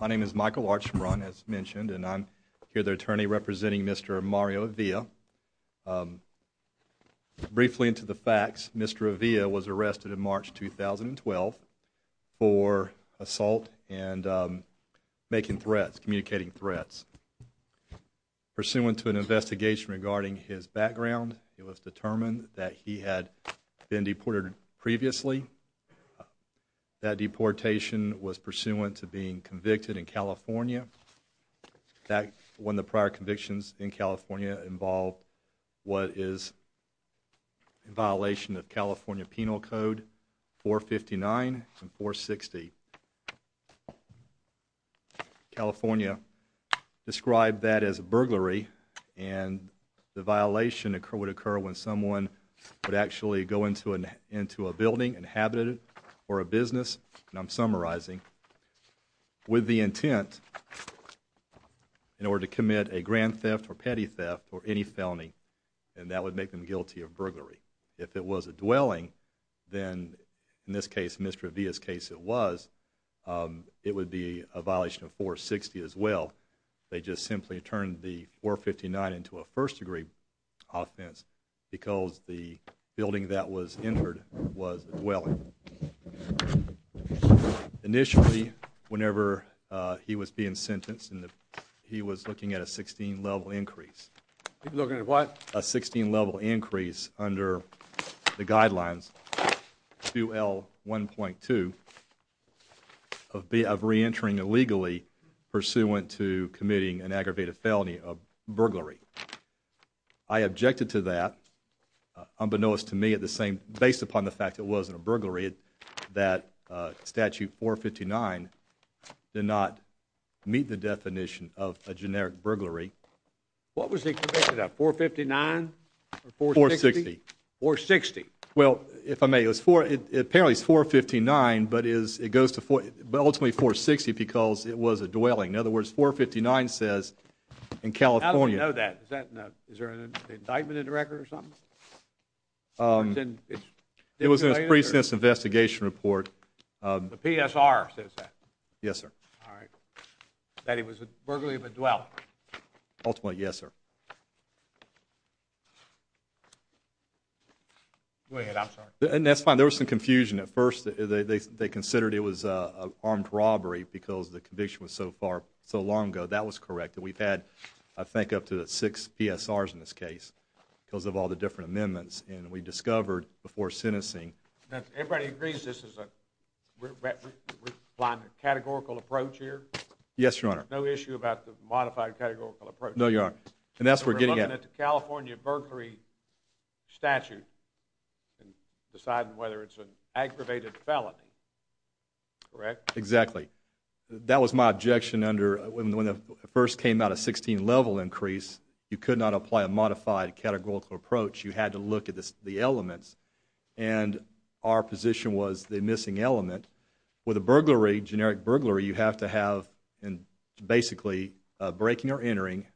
My name is Michael Archibron as mentioned and I'm here the attorney representing mr. Mario Avila Briefly into the facts mr. Avila was arrested in March 2012 for assault and making threats communicating threats Pursuant to an investigation regarding his background it was determined that he had been deported previously That deportation was pursuant to being convicted in California That when the prior convictions in California involved what is? in violation of California Penal Code 459 and 460 California described that as a burglary and Violation occur would occur when someone would actually go into an into a building inhabited or a business and I'm summarizing with the intent In order to commit a grand theft or petty theft or any felony and that would make them guilty of burglary If it was a dwelling then in this case mr. Avila's case it was It would be a violation of 460 as well They just simply turned the 459 into a first-degree Offense because the building that was entered was well Initially whenever he was being sentenced and he was looking at a 16 level increase What a 16 level increase under the guidelines? to L 1.2 Of be of re-entering illegally Pursuant to committing an aggravated felony of burglary. I objected to that I'm Benoist to me at the same based upon the fact. It wasn't a burglary it that statute 459 Did not meet the definition of a generic burglary What was it? 459 460 or 60 well if I may it was for it apparently is 459 But is it goes to 40 but ultimately 460 because it was a dwelling in other words 459 says in California It was a precinct investigation report the PSR says that yes, sir That he was a burglary of a dwell Ultimately, yes, sir Way ahead and that's fine. There was some confusion at first They considered it was a armed robbery because the conviction was so far so long ago That was correct that we've had I think up to six PSRs in this case because of all the different amendments and we discovered before sentencing that everybody agrees, this is a Line of categorical approach here. Yes, your honor. No issue about the modified categorical approach. No, you're and that's we're getting at the, California, Berkeley Statute and decide whether it's an aggravated felony Correct. Exactly That was my objection under when the first came out of 16 level increase You could not apply a modified categorical approach. You had to look at this the elements and Our position was the missing element with a burglary generic burglary. You have to have and Basically breaking or entering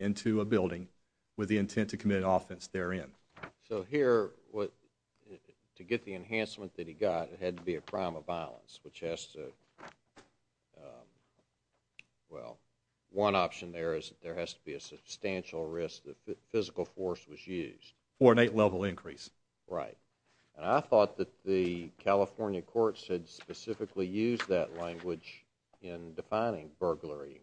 into a building with the intent to commit offense therein. So here what? To get the enhancement that he got it had to be a crime of violence, which has to Well one option there is there has to be a substantial risk the physical force was used or an eight level increase right, I thought that the Burglary in California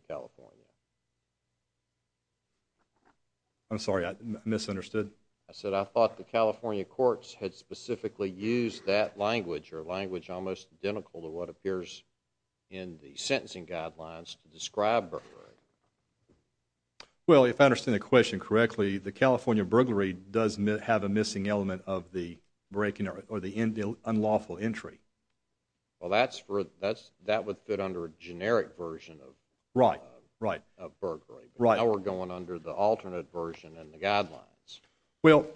I'm sorry. I misunderstood. I said I thought the California courts had specifically used that language or language almost identical to what appears in the sentencing guidelines to describe Well, if I understand the question correctly the California burglary does have a missing element of the breaking or the unlawful entry Well, that's for that's that would fit under a generic version of right right Right now we're going under the alternate version and the guidelines well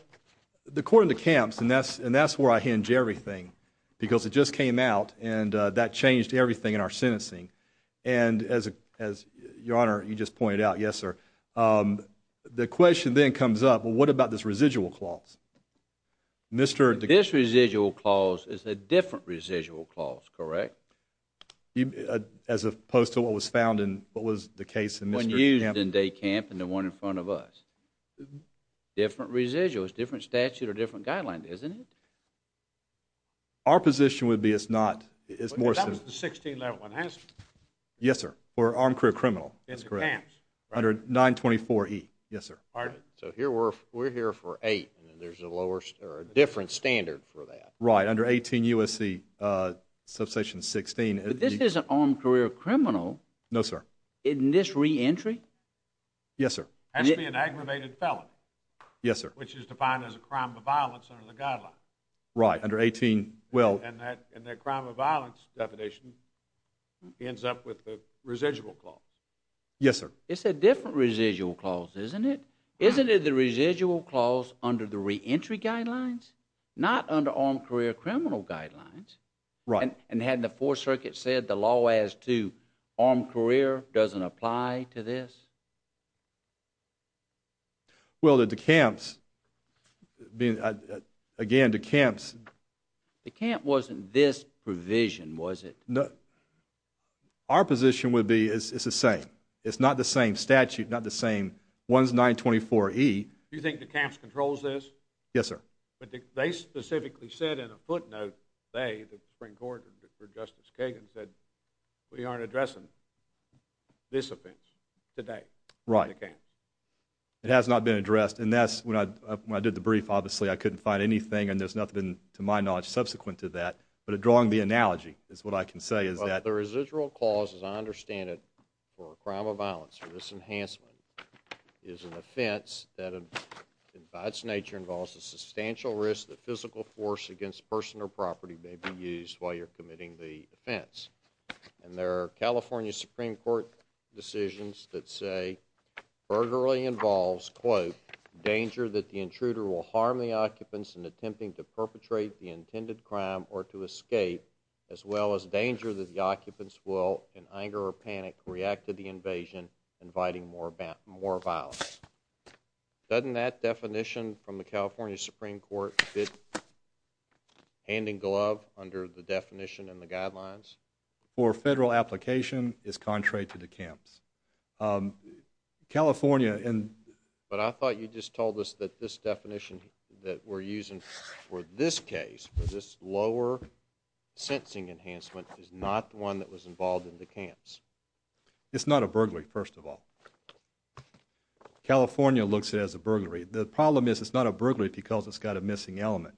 the court in the camps and that's and that's where I hinge everything because it just came out and that changed everything in our sentencing and As as your honor, you just pointed out. Yes, sir The question then comes up. Well, what about this residual clause? Mr. This residual clause is a different residual clause, correct? You as opposed to what was found in what was the case and when used in day camp and the one in front of us Different residuals different statute or different guidelines, isn't it? Our position would be it's not it's more 16. That one has Yes, sir, or on career criminal. It's great under 924 e. Yes, sir So here we're we're here for eight and there's a lower or a different standard for that right under 18 USC Substation 16. This is an armed career criminal. No, sir in this re-entry Yes, sir Yes, sir, which is defined as a crime of violence under the guideline right under 18 well and that and their crime of violence definition Ends up with the residual clause. Yes, sir. It's a different residual clause, isn't it? Isn't it the residual clause under the re-entry guidelines not under armed career criminal guidelines, right? And had the fourth circuit said the law as to armed career doesn't apply to this Well that the camps being again two camps The camp wasn't this provision was it? No Our position would be is it's the same it's not the same statute not the same ones 924 e Do you think the camps controls this? Yes, sir, but they specifically said in a footnote they the spring quarter for Justice Kagan said we aren't addressing This offense today, right? Okay It has not been addressed and that's when I did the brief Obviously, I couldn't find anything and there's nothing to my knowledge subsequent to that But a drawing the analogy is what I can say is that the residual clause as I understand it for a crime of violence for this Enhancement is an offense that invites nature involves a substantial risk the physical force against person or property may be used while you're committing the offense and there are California Supreme Court decisions that say Burglary involves quote Danger that the intruder will harm the occupants in attempting to perpetrate the intended crime or to escape as well as danger that the Occupants will in anger or panic react to the invasion inviting more about more violence Doesn't that definition from the California Supreme Court fit? Handing glove under the definition and the guidelines or federal application is contrary to the camps In California and but I thought you just told us that this definition that we're using for this case for this lower Sensing enhancement is not the one that was involved in the camps. It's not a burglary. First of all California looks as a burglary The problem is it's not a burglary because it's got a missing element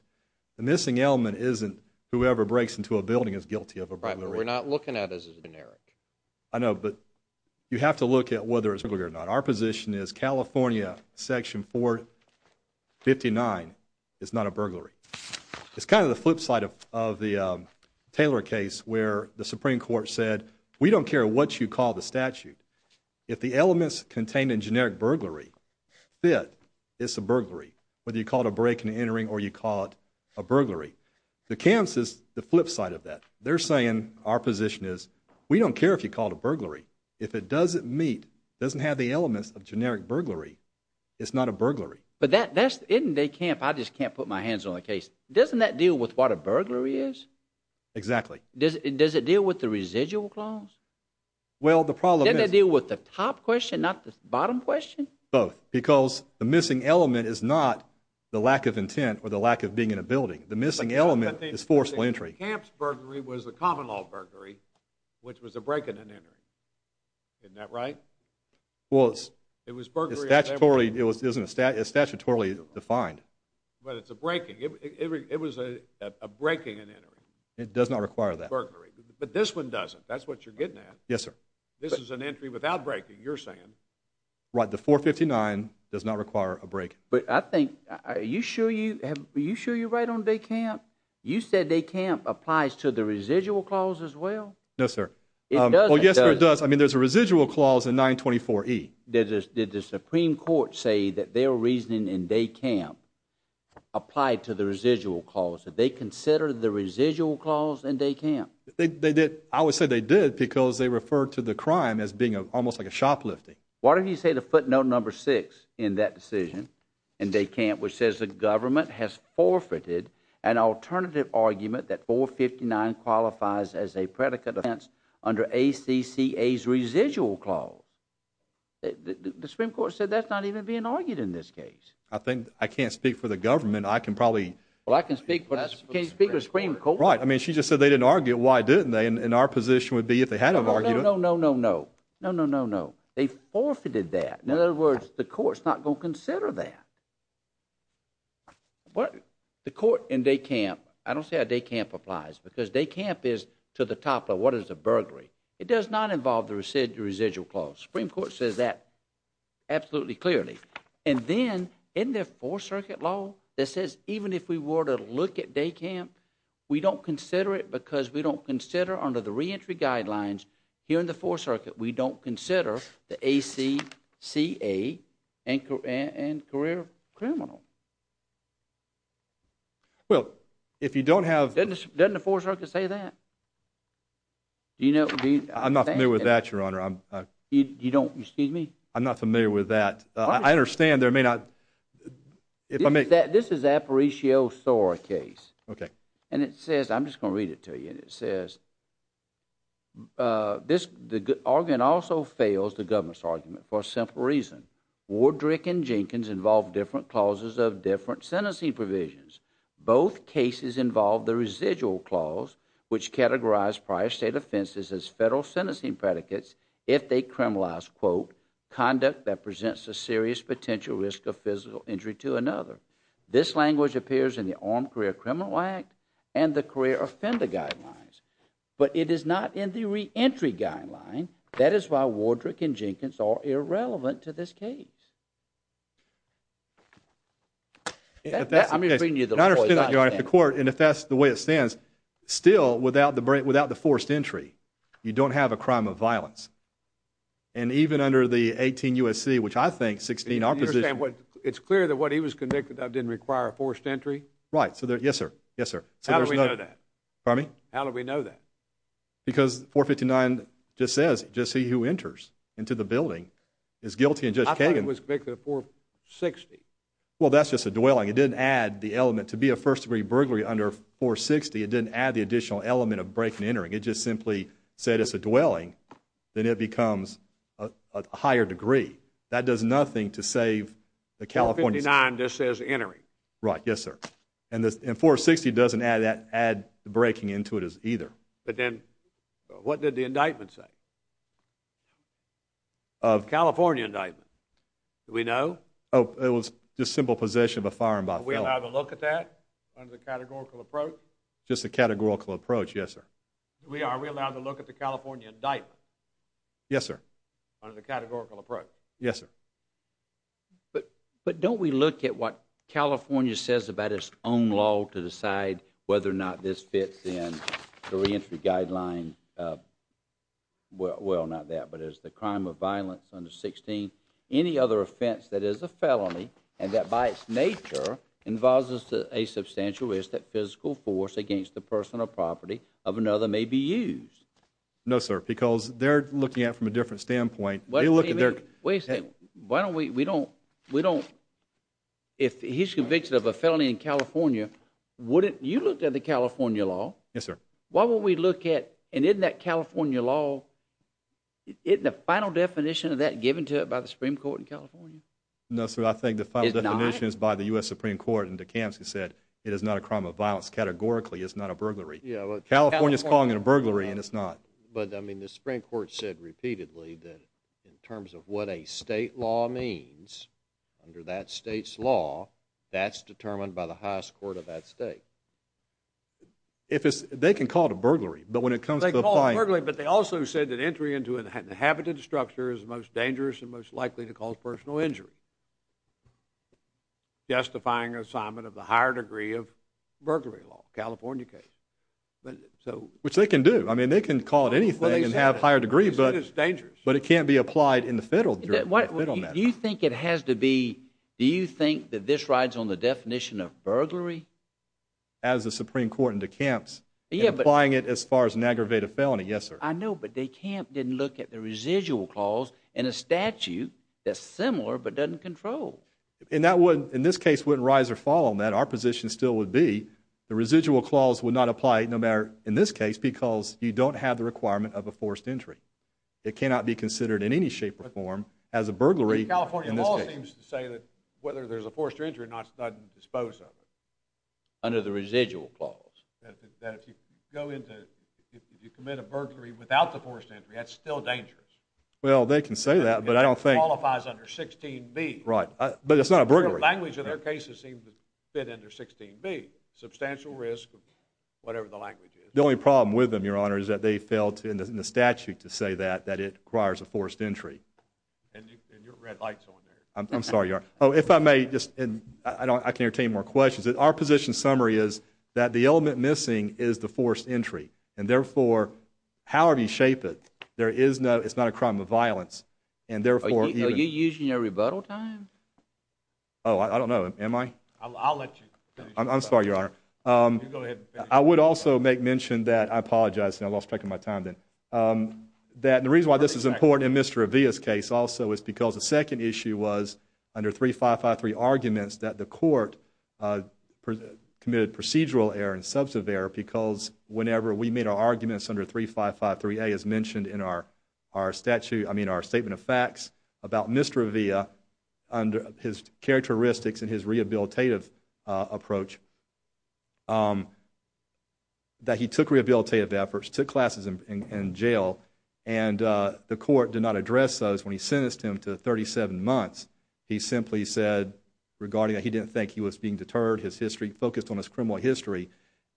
The missing element isn't whoever breaks into a building is guilty of a brother. We're not looking at as a generic I know but you have to look at whether it's bigger or not. Our position is, California section 459 it's not a burglary it's kind of the flip side of the Taylor case where the Supreme Court said we don't care what you call the statute if the elements contained in generic burglary Fit it's a burglary whether you call it a break-in entering or you call it a burglary The camps is the flip side of that They're saying our position is we don't care if you called a burglary if it doesn't meet doesn't have the elements of generic burglary It's not a burglary, but that that's in they camp. I just can't put my hands on the case Doesn't that deal with what a burglary is? Exactly. Does it does it deal with the residual clause? Well the problem that deal with the top question not the bottom question both because the missing element is not The lack of intent or the lack of being in a building the missing element is forceful entry Camps burglary was a common-law burglary, which was a break-in and entering Isn't that right? Well, it was it was burglary. It wasn't a statutorily defined, but it's a breaking it It was a breaking and entering it does not require that burglary, but this one doesn't that's what you're getting at Yes, sir. This is an entry without breaking you're saying Right the 459 does not require a break, but I think are you sure you have you sure you're right on day camp You said they camp applies to the residual clause as well. No, sir. Oh, yes, it does I mean, there's a residual clause in 924 e did this did the Supreme Court say that they were reasoning in day camp? Applied to the residual calls that they consider the residual clause and they can't they did I would say they did because they referred to the crime as being a almost like a shoplifting why don't you say the footnote number six in that decision and they can't which says the government has forfeited an Alternative argument that 459 qualifies as a predicate of ants under a CC a residual clause The Supreme Court said that's not even being argued in this case. I think I can't speak for the government I can probably well I can speak but I can't speak of Supreme Court, right? Our position would be if they had a bargain. No, no, no, no, no, no, no, no, no They forfeited that in other words the courts not going to consider that What the court in day camp I don't say a day camp applies because they camp is to the top of what is a burglary It does not involve the residual residual clause Supreme Court says that Absolutely clearly and then in their four circuit law that says even if we were to look at day camp We don't consider it because we don't consider under the re-entry guidelines here in the four circuit we don't consider the AC CA and and career criminal Well, if you don't have then the four circuit say that You know, I'm not familiar with that your honor. I'm you don't you see me? I'm not familiar with that. I understand there may not If I make that this is a pericio sore case, okay, and it says I'm just gonna read it to you and it says This the good organ also fails the government's argument for a simple reason Wardrick and Jenkins involved different clauses of different sentencing provisions both cases involved the residual clause Which categorized prior state offenses as federal sentencing predicates if they criminalize quote Conduct that presents a serious potential risk of physical injury to another This language appears in the armed career criminal act and the career offender guidelines But it is not in the re-entry guideline. That is why Wardrick and Jenkins are irrelevant to this case The court and if that's the way it stands still without the break without the forced entry you don't have a crime of violence and Even under the 18 USC, which I think 16 opposite what it's clear that what he was convicted of didn't require a forced entry, right? So there yes, sir. Yes, sir For me, how do we know that? Because 459 just says just see who enters into the building is guilty and just hanging was picked at 460 Well, that's just a dwelling. It didn't add the element to be a first-degree burglary under 460 It didn't add the additional element of breaking entering it just simply said it's a dwelling Then it becomes a Higher degree that does nothing to save the California 9. This is entering, right? Yes, sir. And this in 460 doesn't add that add breaking into it as either but then What did the indictment say? Of California indictment, we know oh, it was just simple possession of a firearm by we'll have a look at that Approach just a categorical approach. Yes, sir. We are we allowed to look at the California indictment? Yes, sir Yes, sir But but don't we look at what? California says about its own law to decide whether or not this fits in the reentry guideline Well, well not that but as the crime of violence under 16 any other offense that is a felony and that by its nature Involves us to a substantial risk that physical force against the personal property of another may be used No, sir, because they're looking at from a different standpoint. Well, you look at their way saying why don't we we don't we don't If he's convicted of a felony in California, would it you looked at the California law? Yes, sir Why would we look at and in that California law? It the final definition of that given to it by the Supreme Court in California. No, sir I think the final definition is by the US Supreme Court and the camps who said it is not a crime of violence Categorically, it's not a burglary. Yeah, California's calling it a burglary and it's not but I mean the Supreme Court said repeatedly that in terms of what? a state law means Under that state's law that's determined by the highest court of that state If it's they can call it a burglary, but when it comes like all right But they also said that entry into an inhabited structure is the most dangerous and most likely to cause personal injury Justifying assignment of the higher degree of burglary law, California case But so which they can do I mean they can call it anything and have higher degree But it's dangerous, but it can't be applied in the federal You think it has to be do you think that this rides on the definition of burglary as a Supreme Court in two camps? Yeah, but lying it as far as an aggravated felony. Yes, sir I know but they can't didn't look at the residual clause and a statute that's similar but doesn't control And that would in this case wouldn't rise or fall on that our position still would be The residual clause would not apply it no matter in this case because you don't have the requirement of a forced entry It cannot be considered in any shape or form as a burglary Say that whether there's a forced or injury not sudden dispose of it under the residual clause Well, they can say that but I don't think Right The only problem with them your honor is that they failed to in the statute to say that that it requires a forced entry I'm sorry. Oh if I may just and I don't I can't take more questions Our position summary is that the element missing is the forced entry and therefore? However, you shape it there is no it's not a crime of violence and therefore you're using a rebuttal time. Oh I don't know. Am I I'll let you I'm sorry. You are I would also make mention that I apologize and I lost track of my time then That the reason why this is important in mr. Avila's case also is because the second issue was under three five five three arguments that the court Committed procedural error and substantive error because whenever we made our arguments under three five five three a is mentioned in our our Statute, I mean our statement of facts about mr. Avila under his characteristics and his rehabilitative approach That he took rehabilitative efforts took classes in jail and The court did not address those when he sentenced him to 37 months. He simply said Regarding that he didn't think he was being deterred his history focused on his criminal history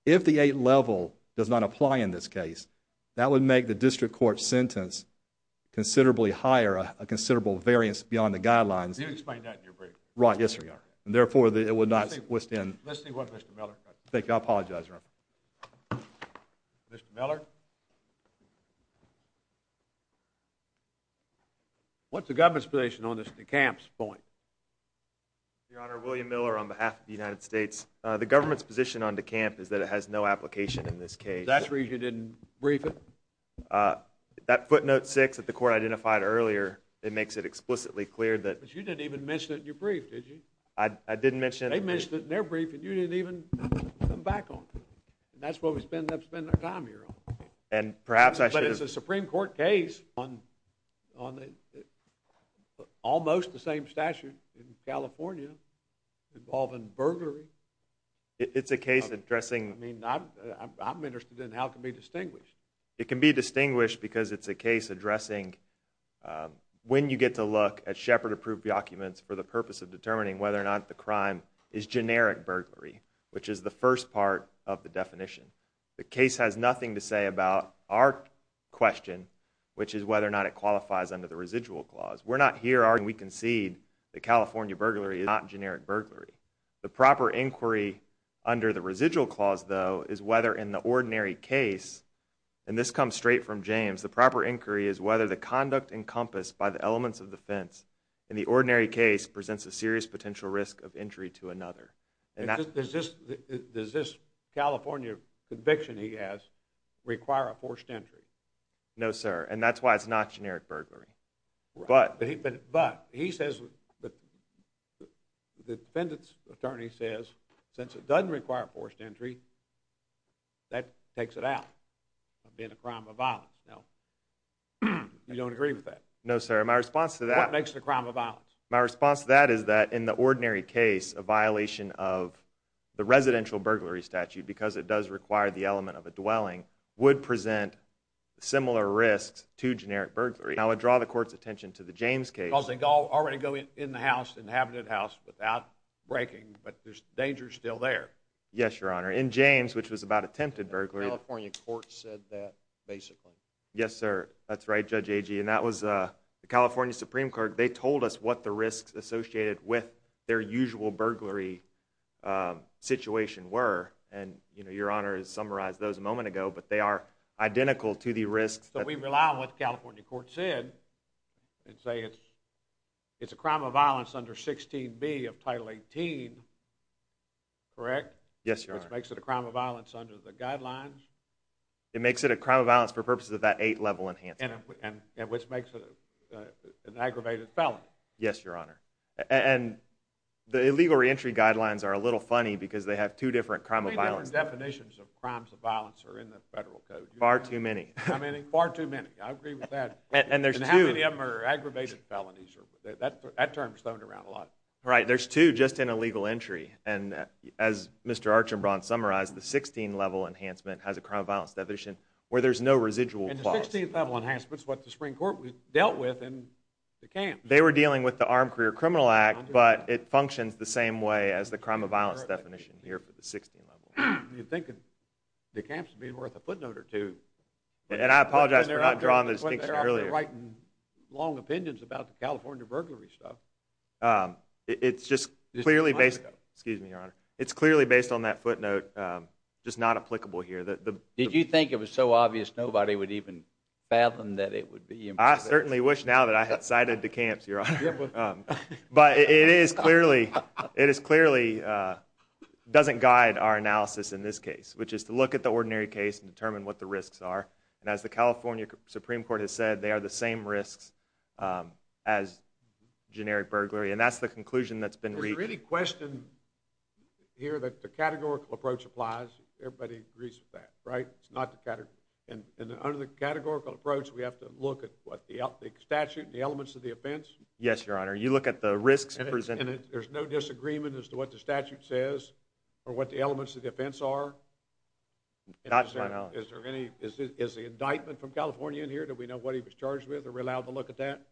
If the 8th level does not apply in this case that would make the district court sentence considerably higher a considerable variance beyond the guidelines Right. Yes, sir. And therefore that it would not withstand Thank you. I apologize What's the government's position on this the camps point Your honor William Miller on behalf of the United States the government's position on the camp is that it has no application in this case That's where you didn't brief it That footnote six that the court identified earlier. It makes it explicitly clear that you didn't even mention it in your brief Did you I didn't mention they mentioned it in their brief and you didn't even come back on That's what we spend up spending our time here on and perhaps I should it's a Supreme Court case on on the Almost the same statute in California involving burglary It's a case of dressing. I mean, I'm interested in how it can be distinguished. It can be distinguished because it's a case addressing When you get to look at Shepherd approved documents for the purpose of determining whether or not the crime is generic burglary Which is the first part of the definition the case has nothing to say about our Question which is whether or not it qualifies under the residual clause We're not here are we concede the California burglary is not generic burglary the proper inquiry Under the residual clause though is whether in the ordinary case and this comes straight from James The proper inquiry is whether the conduct encompassed by the elements of the fence in the ordinary case Presents a serious potential risk of injury to another and that's just does this California conviction he has Require a forced entry. No, sir, and that's why it's not generic burglary, but but he says The defendant's attorney says since it doesn't require forced entry That takes it out. I've been a crime of violence. No You don't agree with that. No, sir my response to that makes the crime of violence my response to that is that in the ordinary case a violation of The residential burglary statute because it does require the element of a dwelling would present Similar risks to generic burglary. I would draw the court's attention to the James case I'll say go already go in the house inhabited house without breaking, but there's danger still there Yes, your honor in James, which was about attempted burglary Yes, sir, that's right judge AG and that was a California Supreme Court. They told us what the risks associated with their usual burglary Situation were and you know, your honor is summarized those a moment ago, but they are identical to the risks So we rely on what the California court said and say it's It's a crime of violence under 16 B of title 18 Correct. Yes, your honor makes it a crime of violence under the guidelines It makes it a crime of violence for purposes of that eight level enhance and which makes it an aggravated felon. Yes, your honor and The illegal re-entry guidelines are a little funny because they have two different crime of violence Definitions of crimes of violence are in the federal code far too many. I mean far too many I agree with that and there's a number aggravated felonies or that that term stoned around a lot, right? There's two just in a legal entry and as mr Archambron summarized the 16 level enhancement has a crime of violence that vision where there's no residual Enhancements what the Supreme Court dealt with and the camp they were dealing with the armed career criminal act But it functions the same way as the crime of violence definition here for the 16 level You think the camps being worth a footnote or two? And I apologize. They're not drawn this earlier, right? Long opinions about the California burglary stuff It's just clearly based. Excuse me, your honor. It's clearly based on that footnote Just not applicable here that the did you think it was so obvious nobody would even Fathom that it would be I certainly wish now that I had cited the camps your honor But it is clearly it is clearly Doesn't guide our analysis in this case Which is to look at the ordinary case and determine what the risks are and as the California Supreme Court has said they are the same risks as Generic burglary and that's the conclusion that's been really questioned Here that the categorical approach applies everybody agrees with that right? It's not the category and under the categorical approach We have to look at what the out the statute the elements of the offense. Yes, your honor You look at the risks and there's no disagreement as to what the statute says or what the elements of the offense are That's right. Is there any is the indictment from California in here? Do we know what he was charged with or allowed to look at that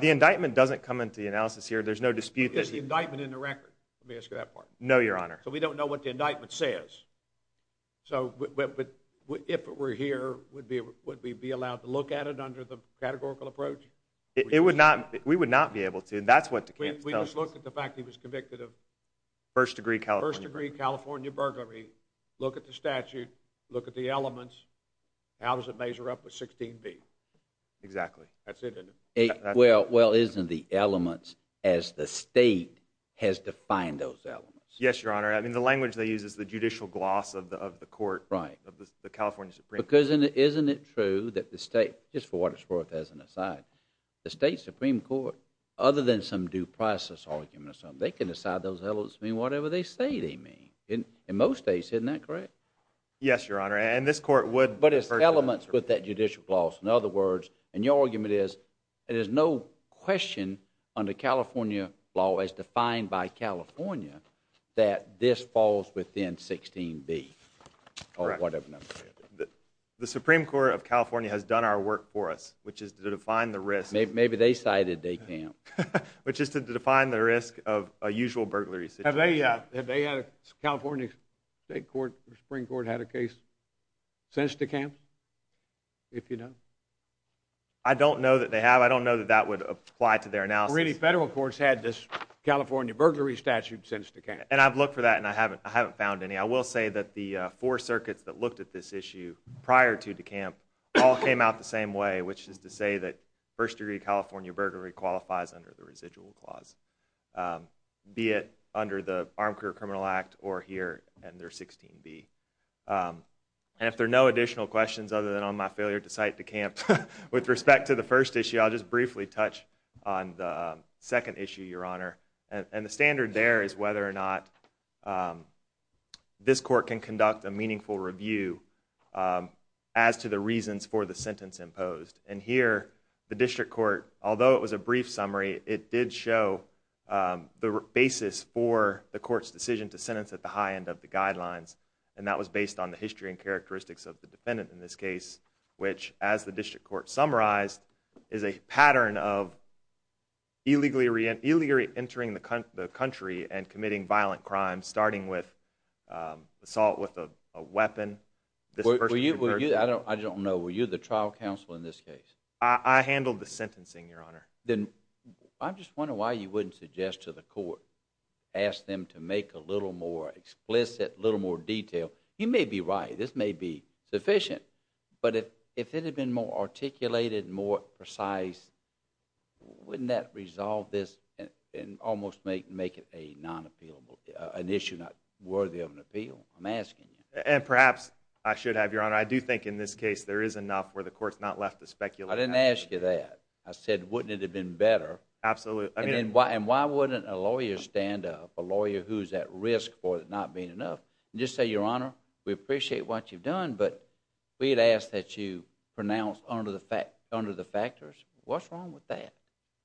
the indictment doesn't come into the analysis here There's no dispute. There's the indictment in the record. Let me ask you that part. No, your honor So we don't know what the indictment says So but if it were here would be would we be allowed to look at it under the categorical approach? It would not we would not be able to and that's what we just look at the fact. He was convicted of First degree Cal first degree, California burglary. Look at the statute. Look at the elements How does it measure up with 16 B? Exactly Well, well isn't the elements as the state has defined those elements? Yes, your honor I mean the language they use is the judicial gloss of the of the court, right? But the California Supreme because in it isn't it true that the state just for what it's worth as an aside The state Supreme Court other than some due process argument or something They can decide those hellos mean whatever they say they mean in in most days, isn't that correct? Yes, your honor and this court would but it's elements with that judicial gloss in other words and your argument is it is no Question under California law as defined by California that this falls within 16 B The Supreme Court of California has done our work for us which is to define the risk Maybe maybe they cited a camp which is to define the risk of a usual burglary Yeah, they had a California State Court the Supreme Court had a case since the camp if you know, I Don't know that they have I don't know that that would apply to their analysis Federal courts had this California burglary statute since the camp and I've looked for that and I haven't I haven't found any I will say That the four circuits that looked at this issue prior to the camp all came out the same way Which is to say that first-degree, California burglary qualifies under the residual clause Be it under the Armed Career Criminal Act or here and there 16 B And if there are no additional questions other than on my failure to cite the camp with respect to the first issue I'll just briefly touch on the second issue your honor and the standard there is whether or not This court can conduct a meaningful review As to the reasons for the sentence imposed and here the district court, although it was a brief summary It did show the basis for the court's decision to sentence at the high end of the guidelines and that was based on the history and characteristics of the defendant in this case, which as the district court summarized is a pattern of illegally reentry entering the country and committing violent crimes starting with Assault with a weapon Were you I don't I don't know were you the trial counsel in this case? I handled the sentencing your honor then I'm just wondering why you wouldn't suggest to the court Asked them to make a little more explicit a little more detail. You may be right this may be sufficient But if if it had been more articulated more precise Wouldn't that resolve this and almost make make it a non-appealable an issue not worthy of an appeal? I'm asking you and perhaps I should have your honor I do think in this case there is enough where the courts not left to speculate. I didn't ask you that I said wouldn't it have been better? Absolutely I mean why and why wouldn't a lawyer stand up a lawyer who's at risk for it not being enough just say your honor We appreciate what you've done, but we'd ask that you pronounce under the fact under the factors. What's wrong with that?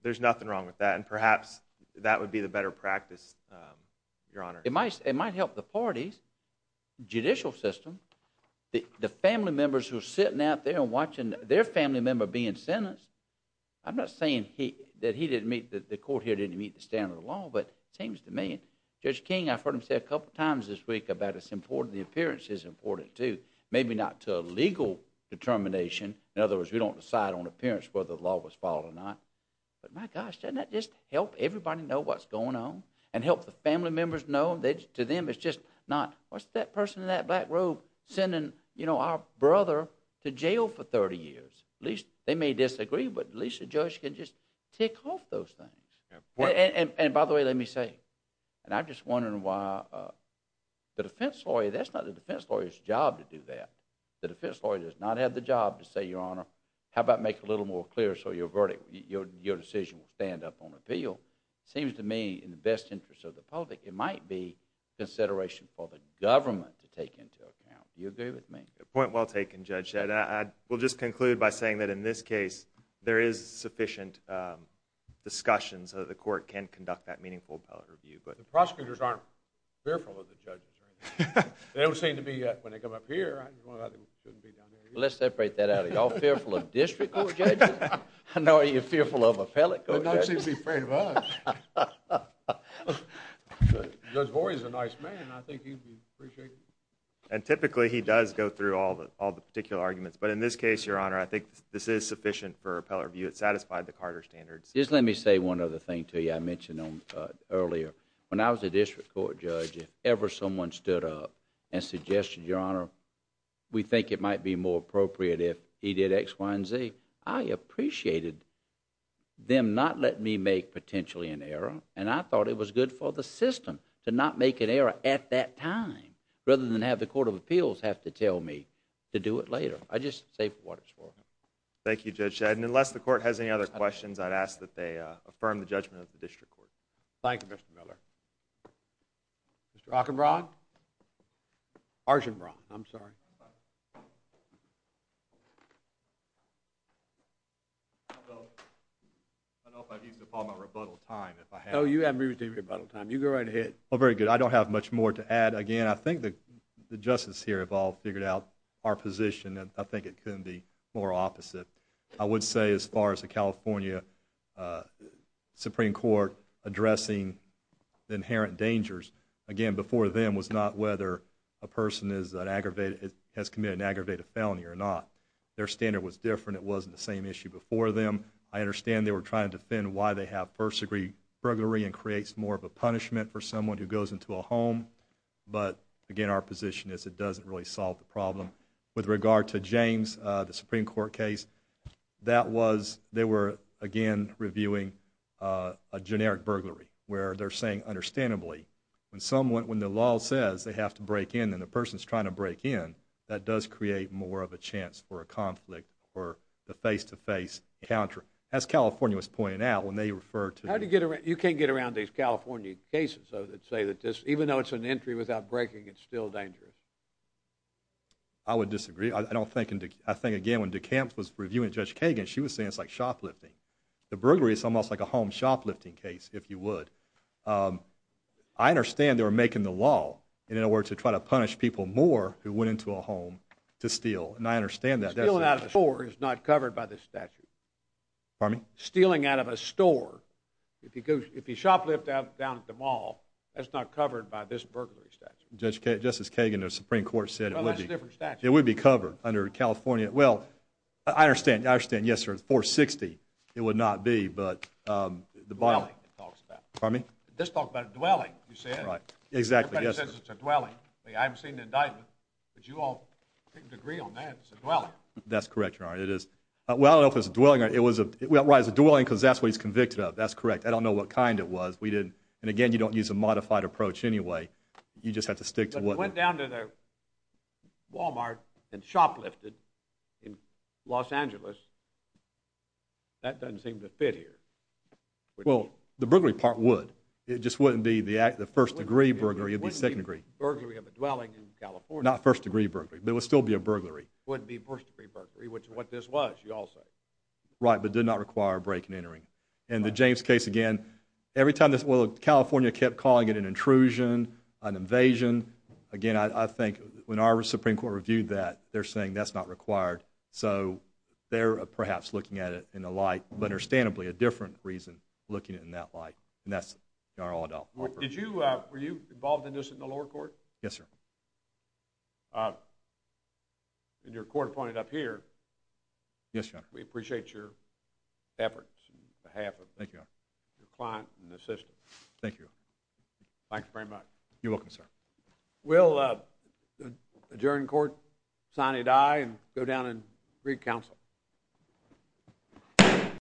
There's nothing wrong with that and perhaps that would be the better practice Your honor it might it might help the parties Judicial system the the family members who are sitting out there and watching their family member being sentenced I'm not saying he that he didn't meet that the court here didn't meet the standard of law But it seems to me Judge King I've heard him say a couple times this week about it's important the appearance is important, too Maybe not to a legal Determination in other words we don't decide on appearance whether the law was followed or not But my gosh doesn't that just help everybody know what's going on and help the family members know that to them It's just not what's that person in that black robe sending You know our brother to jail for 30 years at least they may disagree But at least the judge can just tick off those things and by the way, let me say and I'm just wondering why The defense lawyer that's not the defense lawyers job to do that the defense lawyer does not have the job to say your honor How about make a little more clear? So your verdict your decision will stand up on appeal seems to me in the best interest of the public it might be Consideration for the government to take into account you agree with me a point well taken judge said I will just conclude by saying that in This case there is sufficient Discussions of the court can conduct that meaningful appellate review, but the prosecutors aren't fearful of the judge They don't seem to be yet when they come up here Let's separate that out of y'all fearful of district. I know you're fearful of a pellet Don't seem to be afraid of us Those boys a nice man, I think And typically he does go through all the all the particular arguments, but in this case your honor I think this is sufficient for appellate review. It satisfied the Carter standards Just let me say one other thing to you I mentioned them earlier when I was a district court judge if ever someone stood up and suggested your honor We think it might be more appropriate if he did X Y & Z I appreciated Them not let me make potentially an error And I thought it was good for the system to not make an error at that time Rather than have the Court of Appeals have to tell me to do it later. I just say what it's for Thank you judge said unless the court has any other questions. I'd ask that they affirm the judgment of the district court. Thank you mr. Miller Rockin broad Arjun wrong, I'm sorry I don't know if I've used up all my rebuttal time. Oh you have me with a rebuttal time you go right ahead Oh very good. I don't have much more to add again I think that the justice here have all figured out our position, and I think it couldn't be more opposite I would say as far as the California Supreme Court addressing Inherent dangers again before them was not whether a person is an aggravated has committed an aggravated felony or not Their standard was different. It wasn't the same issue before them I understand they were trying to defend why they have first-degree burglary and creates more of a punishment for someone who goes into a home But again our position is it doesn't really solve the problem with regard to James the Supreme Court case That was they were again reviewing a generic burglary where they're saying Understandably when someone when the law says they have to break in and the person's trying to break in that does create more of a chance For a conflict or the face-to-face encounter as California was pointing out when they refer to how to get around you can't get around these California cases so that say that this even though it's an entry without breaking. It's still dangerous I Would disagree. I don't think and I think again when DeKalb was reviewing judge Kagan She was saying it's like shoplifting the burglary is almost like a home shoplifting case if you would I Understand they were making the law and in order to try to punish people more who went into a home To steal and I understand that they're going out of the door. It's not covered by this statute For me stealing out of a store If you go if you shoplift out down at the mall That's not covered by this burglary statute just as Kagan the Supreme Court said it would be It would be covered under California. Well. I understand I understand yes, sir 460 it would not be but The bottom Well that's correct you are it is well if it's dwelling it was a rise of dwelling because that's what he's convicted of that's correct I don't know what kind it was we didn't and again. You don't use a modified approach anyway You just have to stick to what went down to their? Walmart and shoplifted in Los Angeles That doesn't seem to fit here Well the burglary part would it just wouldn't be the act the first degree burglary of the second degree burglary of a dwelling in Burglary Right but did not require a break in entering and the James case again every time this well California kept calling it an intrusion an invasion again I think when our Supreme Court reviewed that they're saying that's not required so They're perhaps looking at it in the light, but understandably a different reason looking in that light And that's our all-adult. What did you were you involved in this in the lower court? Yes, sir? I Did your court appointed up here Yes, we appreciate your Efforts behalf of thank you your client and the system. Thank you Thanks very much. You're welcome, sir. We'll adjourn court sign it I and go down and read counsel